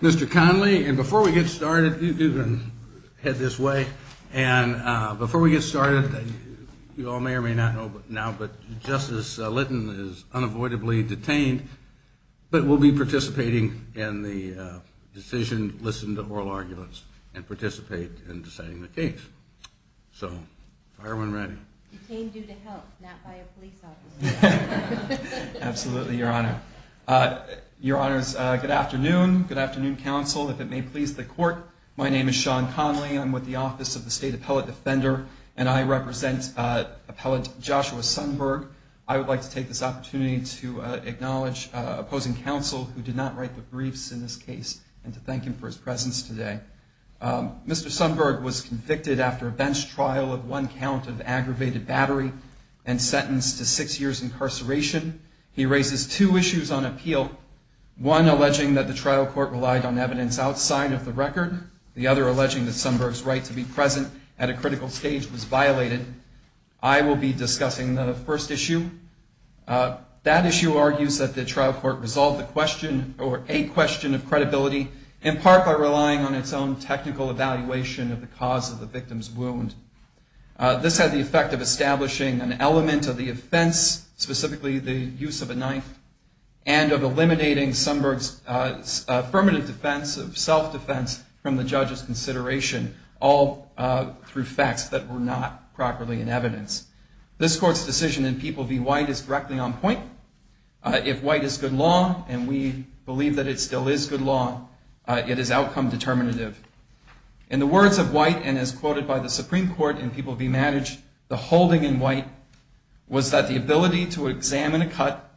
Mr. Conley, and before we get started, you can head this way. And before we get started, you all may or may not know now, but Justice Lytton is unavoidably detained. But we'll be participating in the decision, listen to oral arguments, and participate in deciding the case. So, fire when ready. He came due to help, not by a police officer. Absolutely, Your Honor. Your Honors, good afternoon. Good afternoon, counsel. If it may please the court, my name is Sean Conley. I'm with the Office of the State Appellate Defender, and I represent Appellate Joshua Sundberg. I would like to take this opportunity to acknowledge opposing counsel who did not write the briefs in this case and to thank him for his presence today. Mr. Sundberg was convicted after a bench trial of one count of aggravated battery and sentenced to six years incarceration. He raises two issues on appeal, one alleging that the trial court relied on evidence outside of the record, the other alleging that Sundberg's right to be present at a critical stage was violated. I will be discussing the first issue. That issue argues that the trial court resolved the question, or a question of credibility, in part by relying on its own technical evaluation of the cause of the victim's wound. This had the effect of establishing an element of the offense, specifically the use of a knife, and of eliminating Sundberg's affirmative defense of self-defense from the judge's consideration, all through facts that were not properly in evidence. This court's decision in People v. White is directly on point. If White is good law, and we believe that it still is good law, it is outcome determinative. In the words of White, and as quoted by the Supreme Court in People v. Manage, the holding in White was that the ability to examine a cut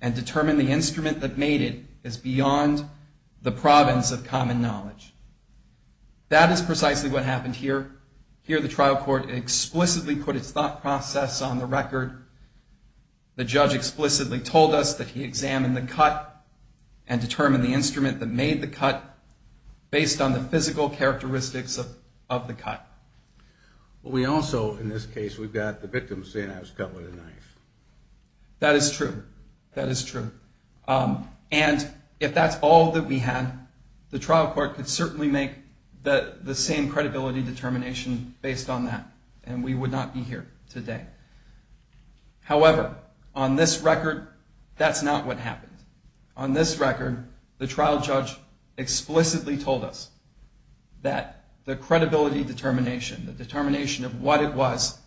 and determine the instrument that made it is beyond the province of common knowledge. That is precisely what happened here. Here the trial court explicitly put its thought process on the record. The judge explicitly told us that he examined the cut and determined the instrument that made the cut based on the physical characteristics of the cut. We also, in this case, we've got the victim saying that it was cut with a knife. That is true. That is true. And if that's all that we had, the trial court could certainly make the same credibility determination based on that. And we would not be here today. However, on this record, that's not what happened. On this record, the trial judge explicitly told us that the credibility determination, the determination of what it was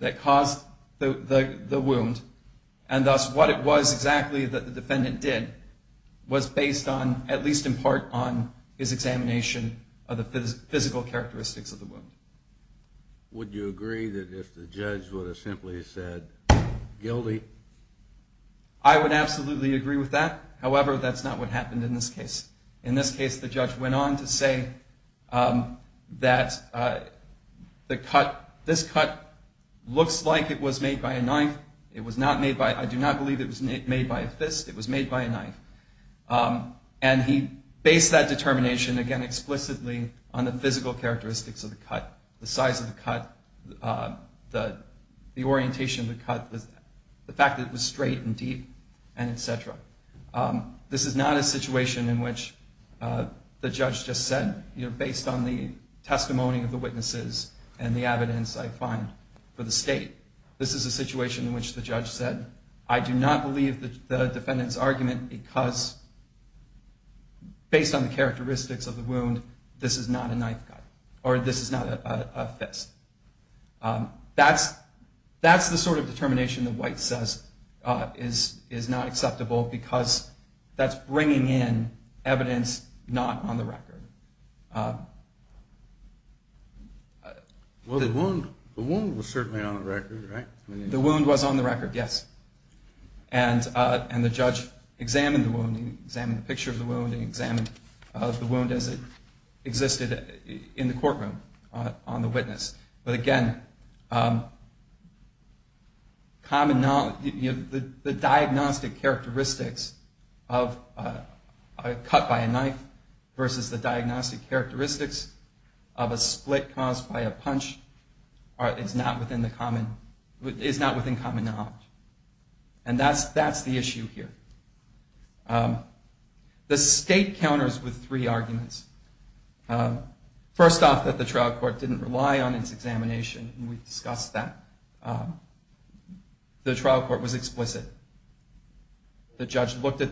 that caused the wound, and thus what it was exactly that the defendant did, was based on, at least in part, on his examination of the physical characteristics of the wound. Would you agree that if the judge would have simply said, guilty? I would absolutely agree with that. However, that's not what happened in this case. In this case, the judge went on to say that this cut looks like it was made by a knife. I do not believe it was made by a fist. It was made by a knife. And he based that determination, again, explicitly on the physical characteristics of the cut, the size of the cut, the orientation of the cut, the fact that it was straight and deep, and et cetera. This is not a situation in which the judge just said, you know, based on the testimony of the witnesses and the evidence I find for the state. This is a situation in which the judge said, I do not believe the defendant's argument because based on the characteristics of the wound, this is not a knife cut or this is not a fist. That's the sort of determination that White says is not acceptable because that's bringing in evidence not on the record. Well, the wound was certainly on the record, right? The wound was on the record, yes. And the judge examined the wound, examined the picture of the wound, and examined the wound as it existed in the courtroom on the witness. But again, the diagnostic characteristics of a cut by a knife versus the diagnostic characteristics of a cut by a fist is not acceptable. The diagnostic characteristics of a split caused by a punch is not within common knowledge. And that's the issue here. The state counters with three arguments. First off, that the trial court didn't rely on its examination. We discussed that. The trial court was explicit. The trial court was explicit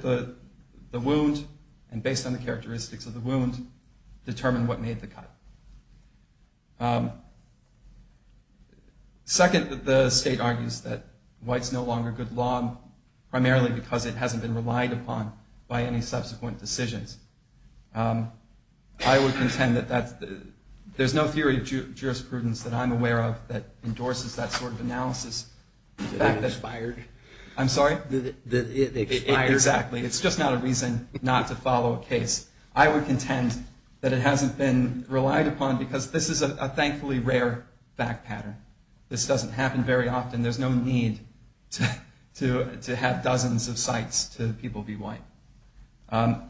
in determining what made the cut. Second, the state argues that White's no longer good law, primarily because it hasn't been relied upon by any subsequent decisions. I would contend that there's no theory of jurisprudence that I'm aware of that endorses that sort of analysis. That expired? I'm sorry? It expired. Exactly. It's just not a reason not to follow a case. I would contend that it hasn't been relied upon because this is a thankfully rare fact pattern. This doesn't happen very often. There's no need to have dozens of sites to people be White.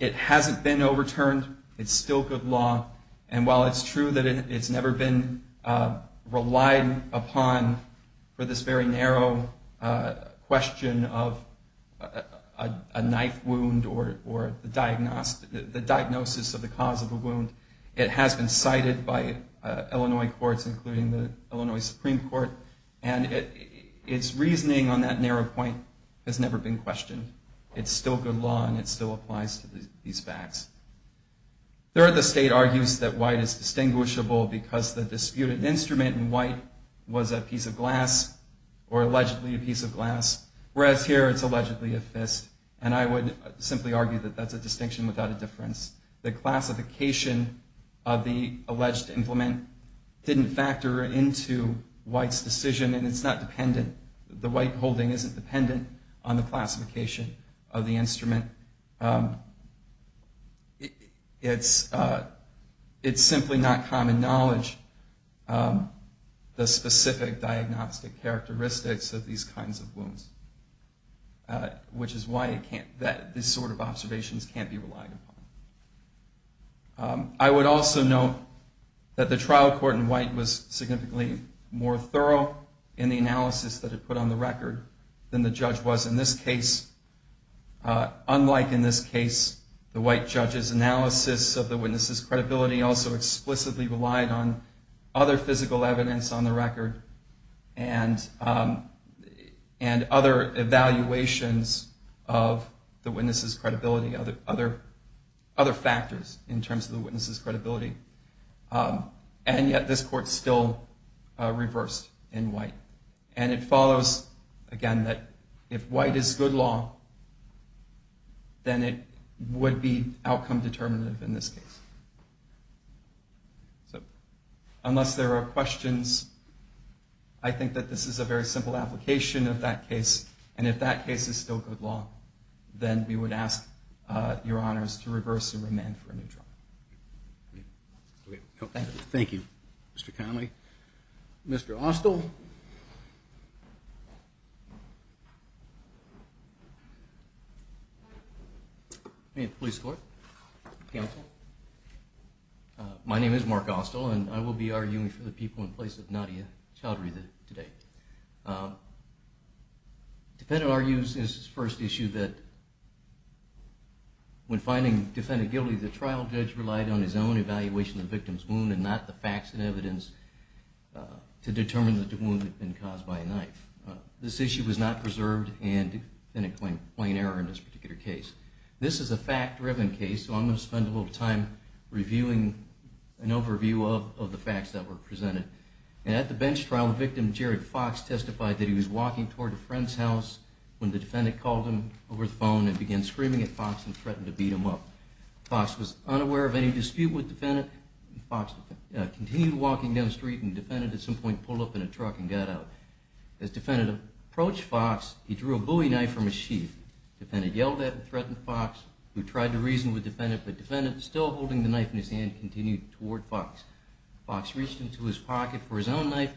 It hasn't been overturned. It's still good law. And while it's true that it's never been relied upon for this very narrow question of a knife wound or the diagnosis of the cause of a wound, it has been cited by Illinois courts, including the Illinois Supreme Court. And its reasoning on that narrow point has never been questioned. It's still good law, and it still applies to these facts. Third, the state argues that White is distinguishable because the disputed instrument in White was a piece of glass or allegedly a piece of glass, whereas here it's allegedly a fist. And I would simply argue that that's a distinction without a difference. The classification of the alleged implement didn't factor into White's decision, and it's not dependent. The White holding isn't dependent on the classification of the instrument. It's simply not common knowledge, the specific diagnostic characteristics of these kinds of wounds, which is why these sort of observations can't be relied upon. I would also note that the trial court in White was significantly more thorough in the analysis that it put on the record than the judge was in this case. Unlike in this case, the White judge's analysis of the witness's credibility also explicitly relied on other physical evidence on the record and other evaluations of the witness's credibility, other factors in terms of the witness's credibility. And yet this court still reversed in White. And it follows, again, that if White is good law, then it would be outcome determinative in this case. So unless there are questions, I think that this is a very simple application of that case. And if that case is still good law, then we would ask your honors to reverse and remand for a new trial. Thank you, Mr. Connolly. Mr. Austell. Thank you, police court, counsel. My name is Mark Austell, and I will be arguing for the people in place of Nadia Chowdhury today. Defendant argues in his first issue that when finding defendant guilty, the trial judge relied on his own evaluation of the victim's wound and not the facts and evidence to determine that the wound had been caused by a knife. This issue was not preserved and defendant claimed plain error in this particular case. This is a fact-driven case, so I'm going to spend a little time reviewing an overview of the facts that were presented. At the bench trial, the victim, Jared Fox, testified that he was walking toward a friend's house when the defendant called him over the phone and began screaming at Fox and threatened to beat him up. Fox was unaware of any dispute with defendant. Fox continued walking down the street, and defendant at some point pulled up in a truck and got out. As defendant approached Fox, he drew a Bowie knife from his sheath. Defendant yelled at and threatened Fox, who tried to reason with defendant, but defendant, still holding the knife in his hand, continued toward Fox. Fox reached into his pocket for his own knife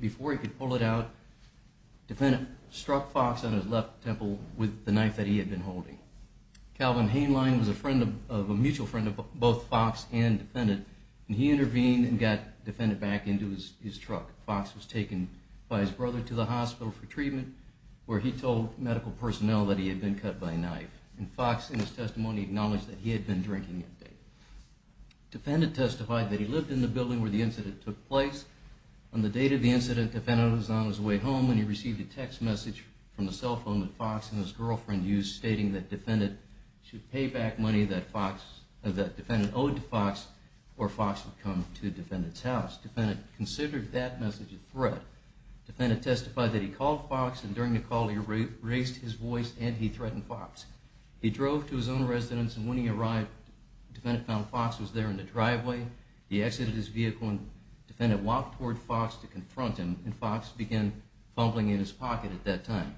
before he could pull it out. Defendant struck Fox on his left temple with the knife that he had been holding. Calvin Heinlein was a mutual friend of both Fox and defendant, and he intervened and got defendant back into his truck. Fox was taken by his brother to the hospital for treatment, where he told medical personnel that he had been cut by a knife. Fox, in his testimony, acknowledged that he had been drinking that day. Defendant testified that he lived in the building where the incident took place. On the date of the incident, defendant was on his way home when he received a text message from the cell phone that Fox and his girlfriend used, stating that defendant owed to Fox or Fox would come to defendant's house. Defendant considered that message a threat. Defendant testified that he called Fox, and during the call he raised his voice and threatened Fox. He drove to his own residence, and when he arrived, defendant found Fox was there in the driveway. He exited his vehicle, and defendant walked toward Fox to confront him, and Fox began fumbling in his pocket at that time.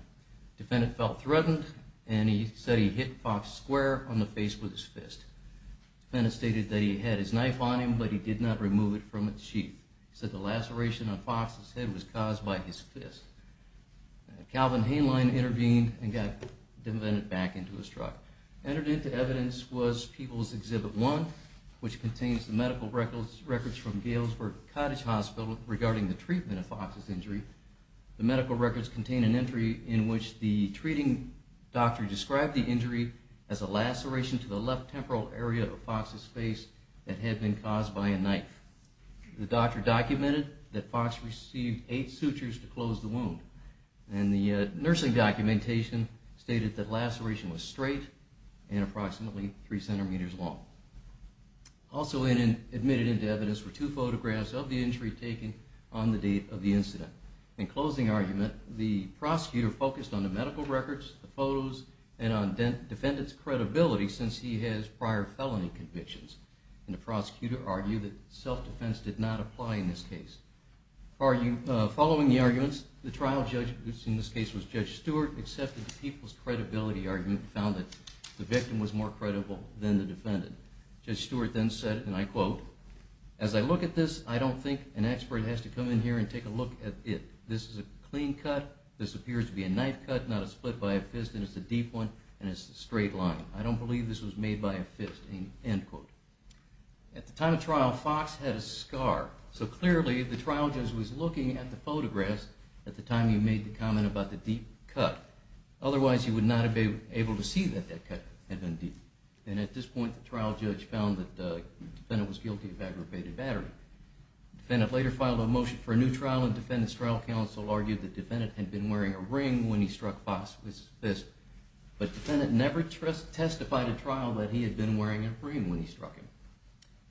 Defendant felt threatened, and he said he hit Fox square on the face with his fist. Defendant stated that he had his knife on him, but he did not remove it from its sheath. He said the laceration on Fox's head was caused by his fist. Calvin Hainline intervened and got defendant back into his truck. Entered into evidence was People's Exhibit 1, which contains the medical records from Galesburg Cottage Hospital regarding the treatment of Fox's injury. The medical records contain an entry in which the treating doctor described the injury as a laceration to the left temporal area of Fox's face that had been caused by a knife. The doctor documented that Fox received eight sutures to close the wound. And the nursing documentation stated that the laceration was straight and approximately three centimeters long. Also admitted into evidence were two photographs of the injury taken on the date of the incident. In closing argument, the prosecutor focused on the medical records, the photos, and on defendant's credibility since he has prior felony convictions. And the prosecutor argued that self-defense did not apply in this case. Following the arguments, the trial judge, who in this case was Judge Stewart, accepted the people's credibility argument and found that the victim was more credible than the defendant. Judge Stewart then said, and I quote, as I look at this, I don't think an expert has to come in here and take a look at it. This is a clean cut. This appears to be a knife cut, not a split by a fist, and it's a deep one, and it's a straight line. I don't believe this was made by a fist, end quote. At the time of trial, Fox had a scar, so clearly the trial judge was looking at the photographs at the time he made the comment about the deep cut. Otherwise, he would not have been able to see that that cut had been deep. And at this point, the trial judge found that the defendant was guilty of aggravated battery. The defendant later filed a motion for a new trial, and the defendant's trial counsel argued that the defendant had been wearing a ring when he struck Fox with his fist. But the defendant never testified at trial that he had been wearing a ring when he struck him.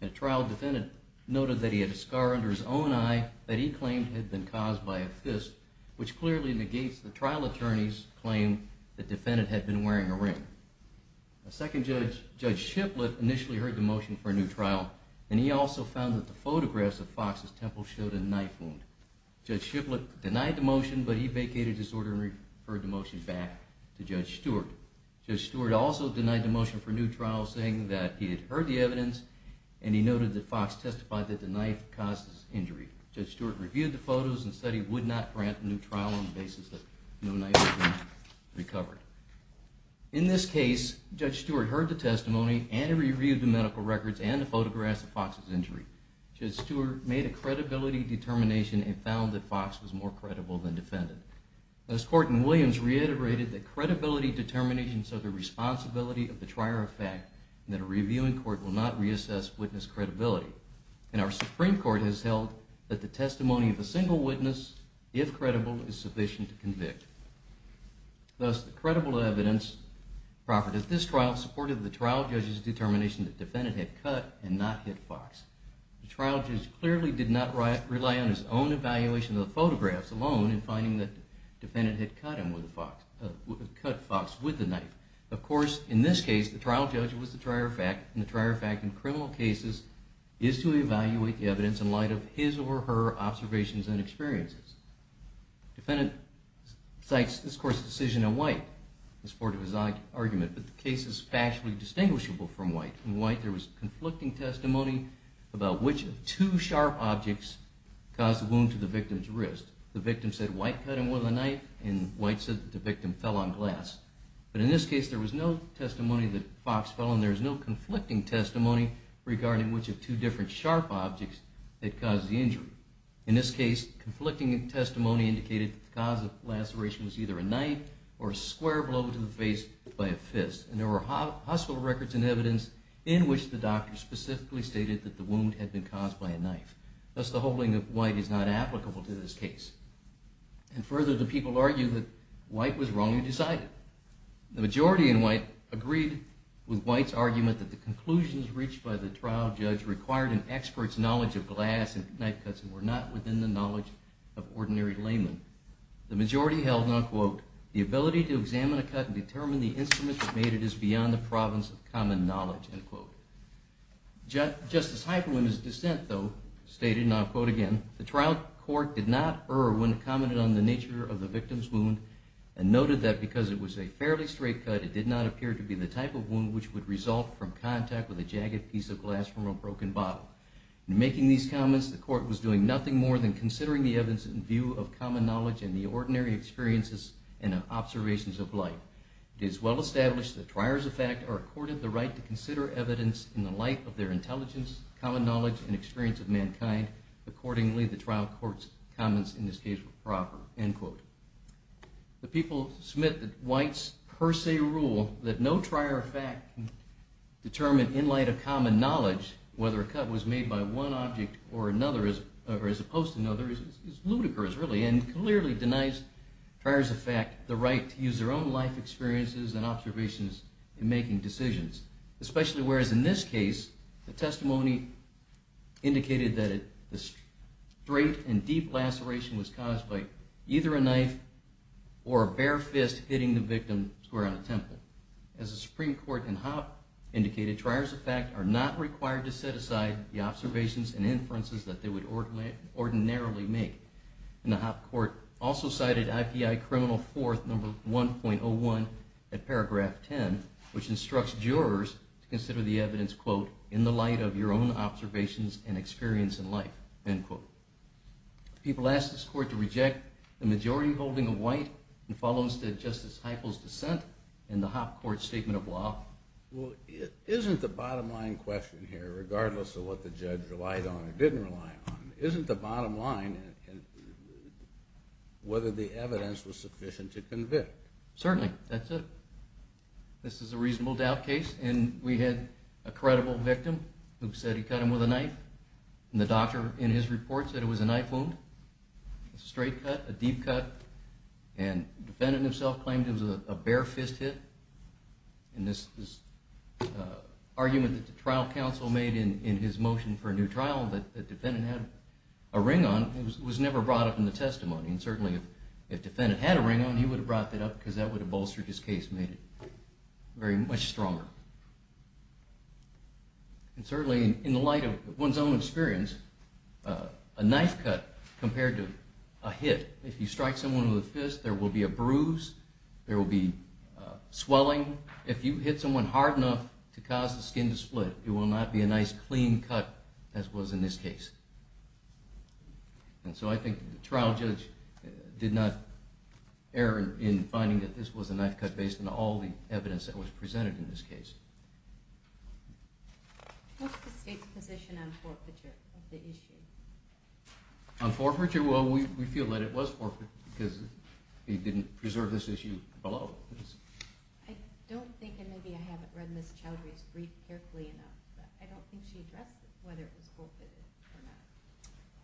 At trial, the defendant noted that he had a scar under his own eye that he claimed had been caused by a fist, which clearly negates the trial attorney's claim that the defendant had been wearing a ring. The second judge, Judge Shiplett, initially heard the motion for a new trial, and he also found that the photographs of Fox's temple showed a knife wound. Judge Shiplett denied the motion, but he vacated his order and referred the motion back to Judge Stewart. Judge Stewart also denied the motion for a new trial, saying that he had heard the evidence, and he noted that Fox testified that the knife caused his injury. Judge Stewart reviewed the photos and said he would not grant a new trial on the basis that no knife had been recovered. In this case, Judge Stewart heard the testimony, and he reviewed the medical records and the photographs of Fox's injury. Judge Stewart made a credibility determination and found that Fox was more credible than the defendant. This court in Williams reiterated that credibility determinations are the responsibility of the trier of fact, and that a reviewing court will not reassess witness credibility. And our Supreme Court has held that the testimony of a single witness, if credible, is sufficient to convict. Thus, the credible evidence proffered at this trial supported the trial judge's determination that the defendant had cut and not hit Fox. The trial judge clearly did not rely on his own evaluation of the photographs alone in finding that the defendant had cut Fox with the knife. Of course, in this case, the trial judge was the trier of fact, and the trier of fact in criminal cases is to evaluate the evidence in light of his or her observations and experiences. The defendant cites this court's decision in White in support of his argument, but the case is factually distinguishable from White. In White, there was conflicting testimony about which of two sharp objects caused the wound to the victim's wrist. The victim said White cut him with a knife, and White said that the victim fell on glass. But in this case, there was no testimony that Fox fell, and there was no conflicting testimony regarding which of two different sharp objects had caused the injury. In this case, conflicting testimony indicated that the cause of the laceration was either a knife or a square blow to the face by a fist. And there were hostile records and evidence in which the doctor specifically stated that the wound had been caused by a knife. Thus, the holding of White is not applicable to this case. And further, the people argue that White was wrong in deciding. The majority in White agreed with White's argument that the conclusions reached by the trial judge required an expert's knowledge of glass and knife cuts and were not within the knowledge of ordinary laymen. The majority held, and I'll quote, the ability to examine a cut and determine the instrument that made it is beyond the province of common knowledge, end quote. Justice Hyperwin's dissent, though, stated, and I'll quote again, the trial court did not err when it commented on the nature of the victim's wound and noted that because it was a fairly straight cut, it did not appear to be the type of wound which would result from contact with a jagged piece of glass from a broken bottle. In making these comments, the court was doing nothing more than considering the evidence in view of common knowledge and the ordinary experiences and observations of light. It is well established that triers of fact are accorded the right to consider evidence in the light of their intelligence, common knowledge, and experience of mankind. Accordingly, the trial court's comments in this case were proper, end quote. The people submit that White's per se rule that no trier of fact determined in light of common knowledge whether a cut was made by one object or another, or as opposed to another, is ludicrous, really, and clearly denies triers of fact the right to use their own life experiences and observations in making decisions. Especially whereas in this case, the testimony indicated that the straight and deep laceration was caused by either a knife or a bare fist hitting the victim square on a temple. As the Supreme Court in Hopp indicated, triers of fact are not required to set aside the observations and inferences that they would ordinarily make. And the Hopp court also cited IPI criminal fourth number 1.01 at paragraph 10, which instructs jurors to consider the evidence, quote, in the light of your own observations and experience in life, end quote. The people asked this court to reject the majority holding of White and follow instead Justice Heifel's dissent in the Hopp court's statement of law. Well, isn't the bottom line question here, regardless of what the judge relied on or didn't rely on, isn't the bottom line whether the evidence was sufficient to convict? Certainly, that's it. This is a reasonable doubt case, and we had a credible victim who said he cut him with a knife. And the doctor in his report said it was a knife wound, a straight cut, a deep cut. And the defendant himself claimed it was a bare fist hit. And this argument that the trial counsel made in his motion for a new trial that the defendant had a ring on was never brought up in the testimony. And certainly, if the defendant had a ring on, he would have brought that up because that would have bolstered his case and made it very much stronger. And certainly, in the light of one's own experience, a knife cut compared to a hit, if you strike someone with a fist, there will be a bruise, there will be swelling. If you hit someone hard enough to cause the skin to split, it will not be a nice, clean cut as was in this case. And so I think the trial judge did not err in finding that this was a knife cut based on all the evidence that was presented in this case. What's the state's position on forfeiture of the issue? On forfeiture? Well, we feel that it was forfeiture because we didn't preserve this issue below. I don't think, and maybe I haven't read Ms. Chowdhury's brief carefully enough, but I don't think she addressed whether it was forfeited or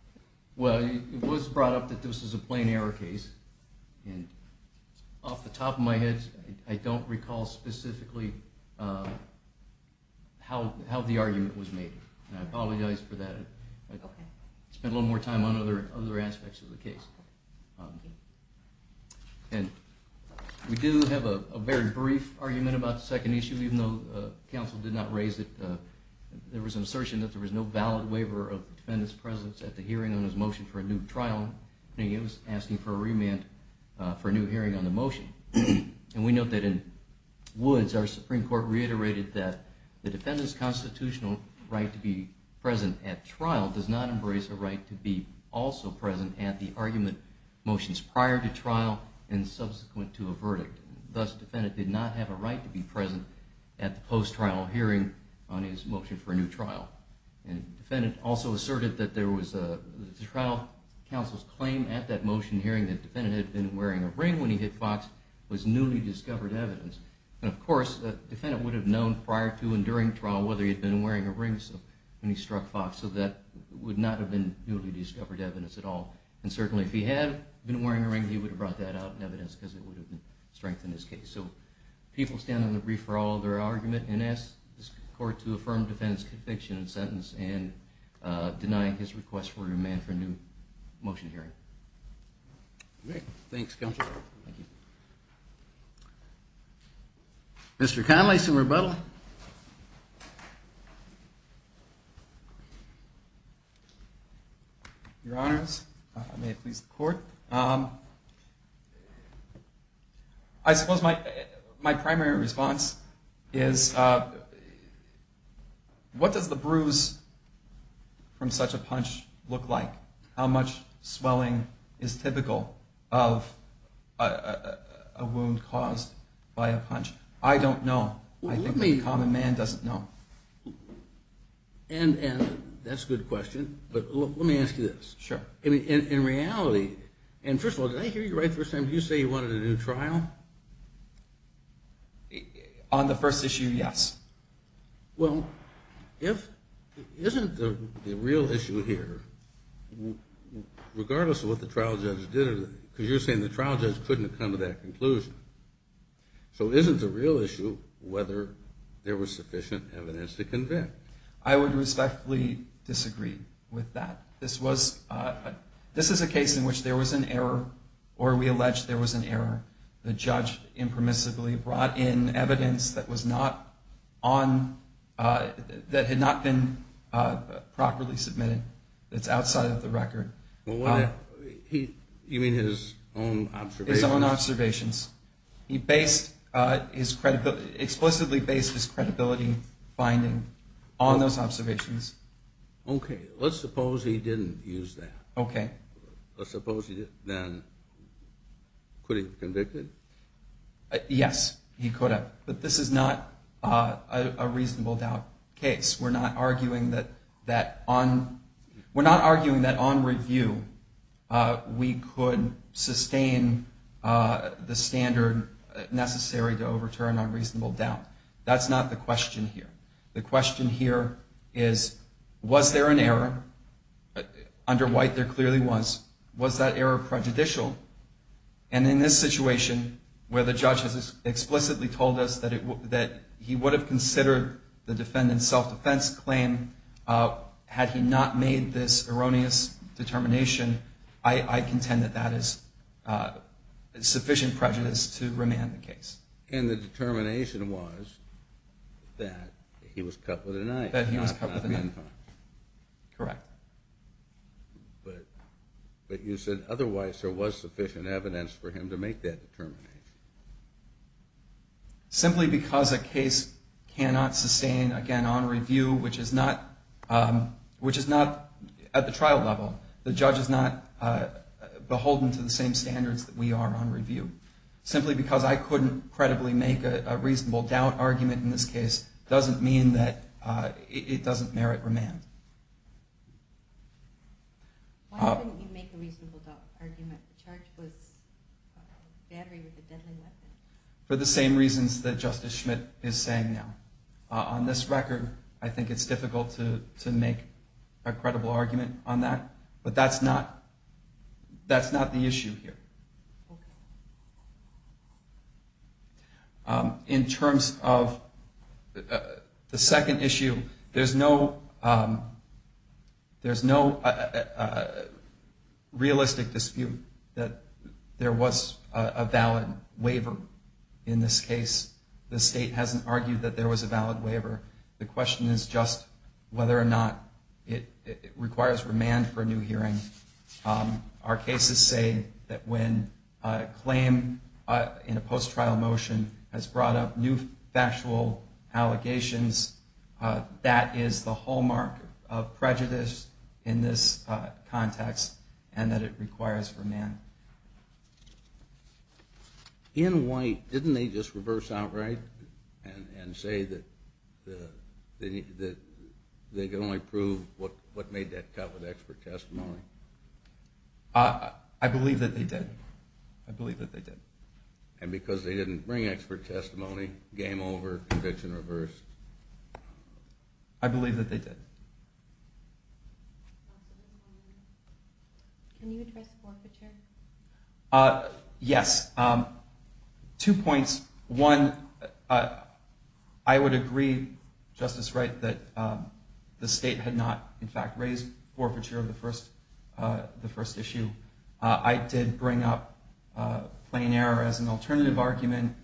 not. Well, it was brought up that this was a plain error case. And off the top of my head, I don't recall specifically how the argument was made. And I apologize for that. I'll spend a little more time on other aspects of the case. And we do have a very brief argument about the second issue, even though counsel did not raise it. There was an assertion that there was no valid waiver of the defendant's presence at the hearing on his motion for a new trial, and he was asking for a remand for a new hearing on the motion. And we note that in Woods, our Supreme Court reiterated that the defendant's constitutional right to be present at trial does not embrace a right to be also present at the argument motions prior to trial and subsequent to a verdict. Thus, the defendant did not have a right to be present at the post-trial hearing on his motion for a new trial. And the defendant also asserted that the trial counsel's claim at that motion hearing that the defendant had been wearing a ring when he hit Fox was newly discovered evidence. And of course, the defendant would have known prior to and during trial whether he had been wearing a ring when he struck Fox, so that would not have been newly discovered evidence at all. And certainly if he had been wearing a ring, he would have brought that out in evidence because it would have strengthened his case. So people stand on the brief for all of their argument and ask this court to affirm the defendant's conviction and sentence and deny his request for a remand for a new motion hearing. Great. Thanks, counsel. Thank you. Mr. Connolly, some rebuttal. Your Honors, may it please the Court. I suppose my primary response is what does the bruise from such a punch look like? How much swelling is typical of a wound caused by a punch? I don't know. I think the common man doesn't know. And that's a good question, but let me ask you this. Sure. In reality, and first of all, did I hear you right the first time? Did you say you wanted a new trial? On the first issue, yes. Well, isn't the real issue here, regardless of what the trial judge did, because you're saying the trial judge couldn't have come to that conclusion. So isn't the real issue whether there was sufficient evidence to convict? I would respectfully disagree with that. This is a case in which there was an error, or we allege there was an error. The judge impermissibly brought in evidence that had not been properly submitted, that's outside of the record. You mean his own observations? His own observations. He explicitly based his credibility finding on those observations. Okay. Let's suppose he didn't use that. Okay. Let's suppose he didn't, then could he have been convicted? Yes, he could have. But this is not a reasonable doubt case. We're not arguing that on review we could sustain the standard necessary to overturn unreasonable doubt. That's not the question here. The question here is, was there an error? Under White, there clearly was. Was that error prejudicial? And in this situation, where the judge has explicitly told us that he would have considered the defendant's self-defense claim had he not made this erroneous determination, I contend that that is sufficient prejudice to remand the case. And the determination was that he was cut with an iron. That he was cut with an iron. Correct. But you said otherwise there was sufficient evidence for him to make that determination. Simply because a case cannot sustain, again, on review, which is not at the trial level. The judge is not beholden to the same standards that we are on review. Simply because I couldn't credibly make a reasonable doubt argument in this case doesn't mean that it doesn't merit remand. Why couldn't you make a reasonable doubt argument? The charge was battery with a deadly weapon. For the same reasons that Justice Schmidt is saying now. On this record, I think it's difficult to make a credible argument on that. But that's not the issue here. Okay. In terms of the second issue, there's no realistic dispute that there was a valid waiver in this case. The state hasn't argued that there was a valid waiver. The question is just whether or not it requires remand for a new hearing. Our cases say that when a claim in a post-trial motion has brought up new factual allegations, that is the hallmark of prejudice in this context and that it requires remand. In white, didn't they just reverse outright and say that they could only prove what made that cut with expert testimony? I believe that they did. I believe that they did. And because they didn't bring expert testimony, game over, conviction reversed? I believe that they did. Can you address forfeiture? Yes. Two points. One, I would agree, Justice Wright, that the state had not, in fact, raised forfeiture of the first issue. I did bring up plain error as an alternative argument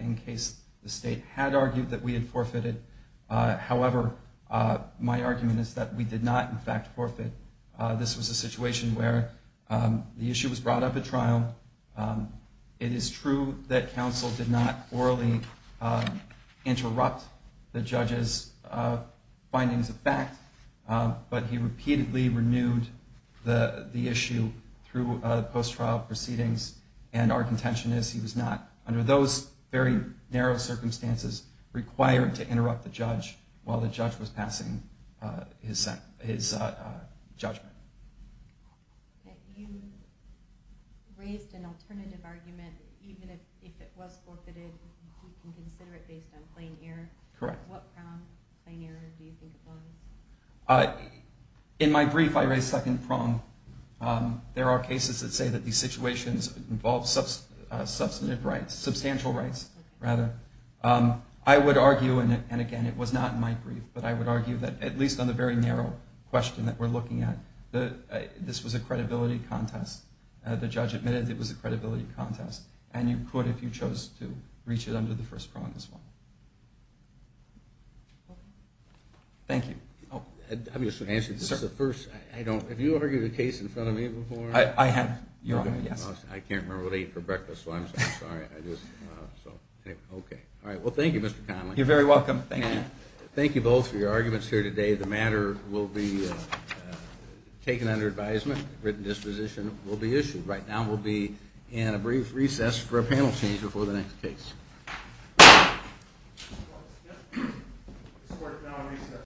in case the state had argued that we had forfeited. However, my argument is that we did not, in fact, forfeit. This was a situation where the issue was brought up at trial. It is true that counsel did not orally interrupt the judge's findings of fact, but he repeatedly renewed the issue through post-trial proceedings, and our contention is he was not, under those very narrow circumstances, required to interrupt the judge while the judge was passing his judgment. You raised an alternative argument. Even if it was forfeited, you can consider it based on plain error. Correct. What prong of plain error do you think it was? In my brief, I raised second prong. There are cases that say that these situations involve substantive rights, substantial rights, rather. I would argue, and again, it was not in my brief, but I would argue that, at least on the very narrow question that we're looking at, this was a credibility contest. The judge admitted it was a credibility contest, and you could if you chose to reach it under the first prong as well. Thank you. Have you argued a case in front of me before? I have, yes. I can't remember what I ate for breakfast, so I'm sorry. Okay. Well, thank you, Mr. Conley. You're very welcome. Thank you. Thank you both for your arguments here today. The matter will be taken under advisement. A written disposition will be issued. Right now we'll be in a brief recess for a panel change before the next case.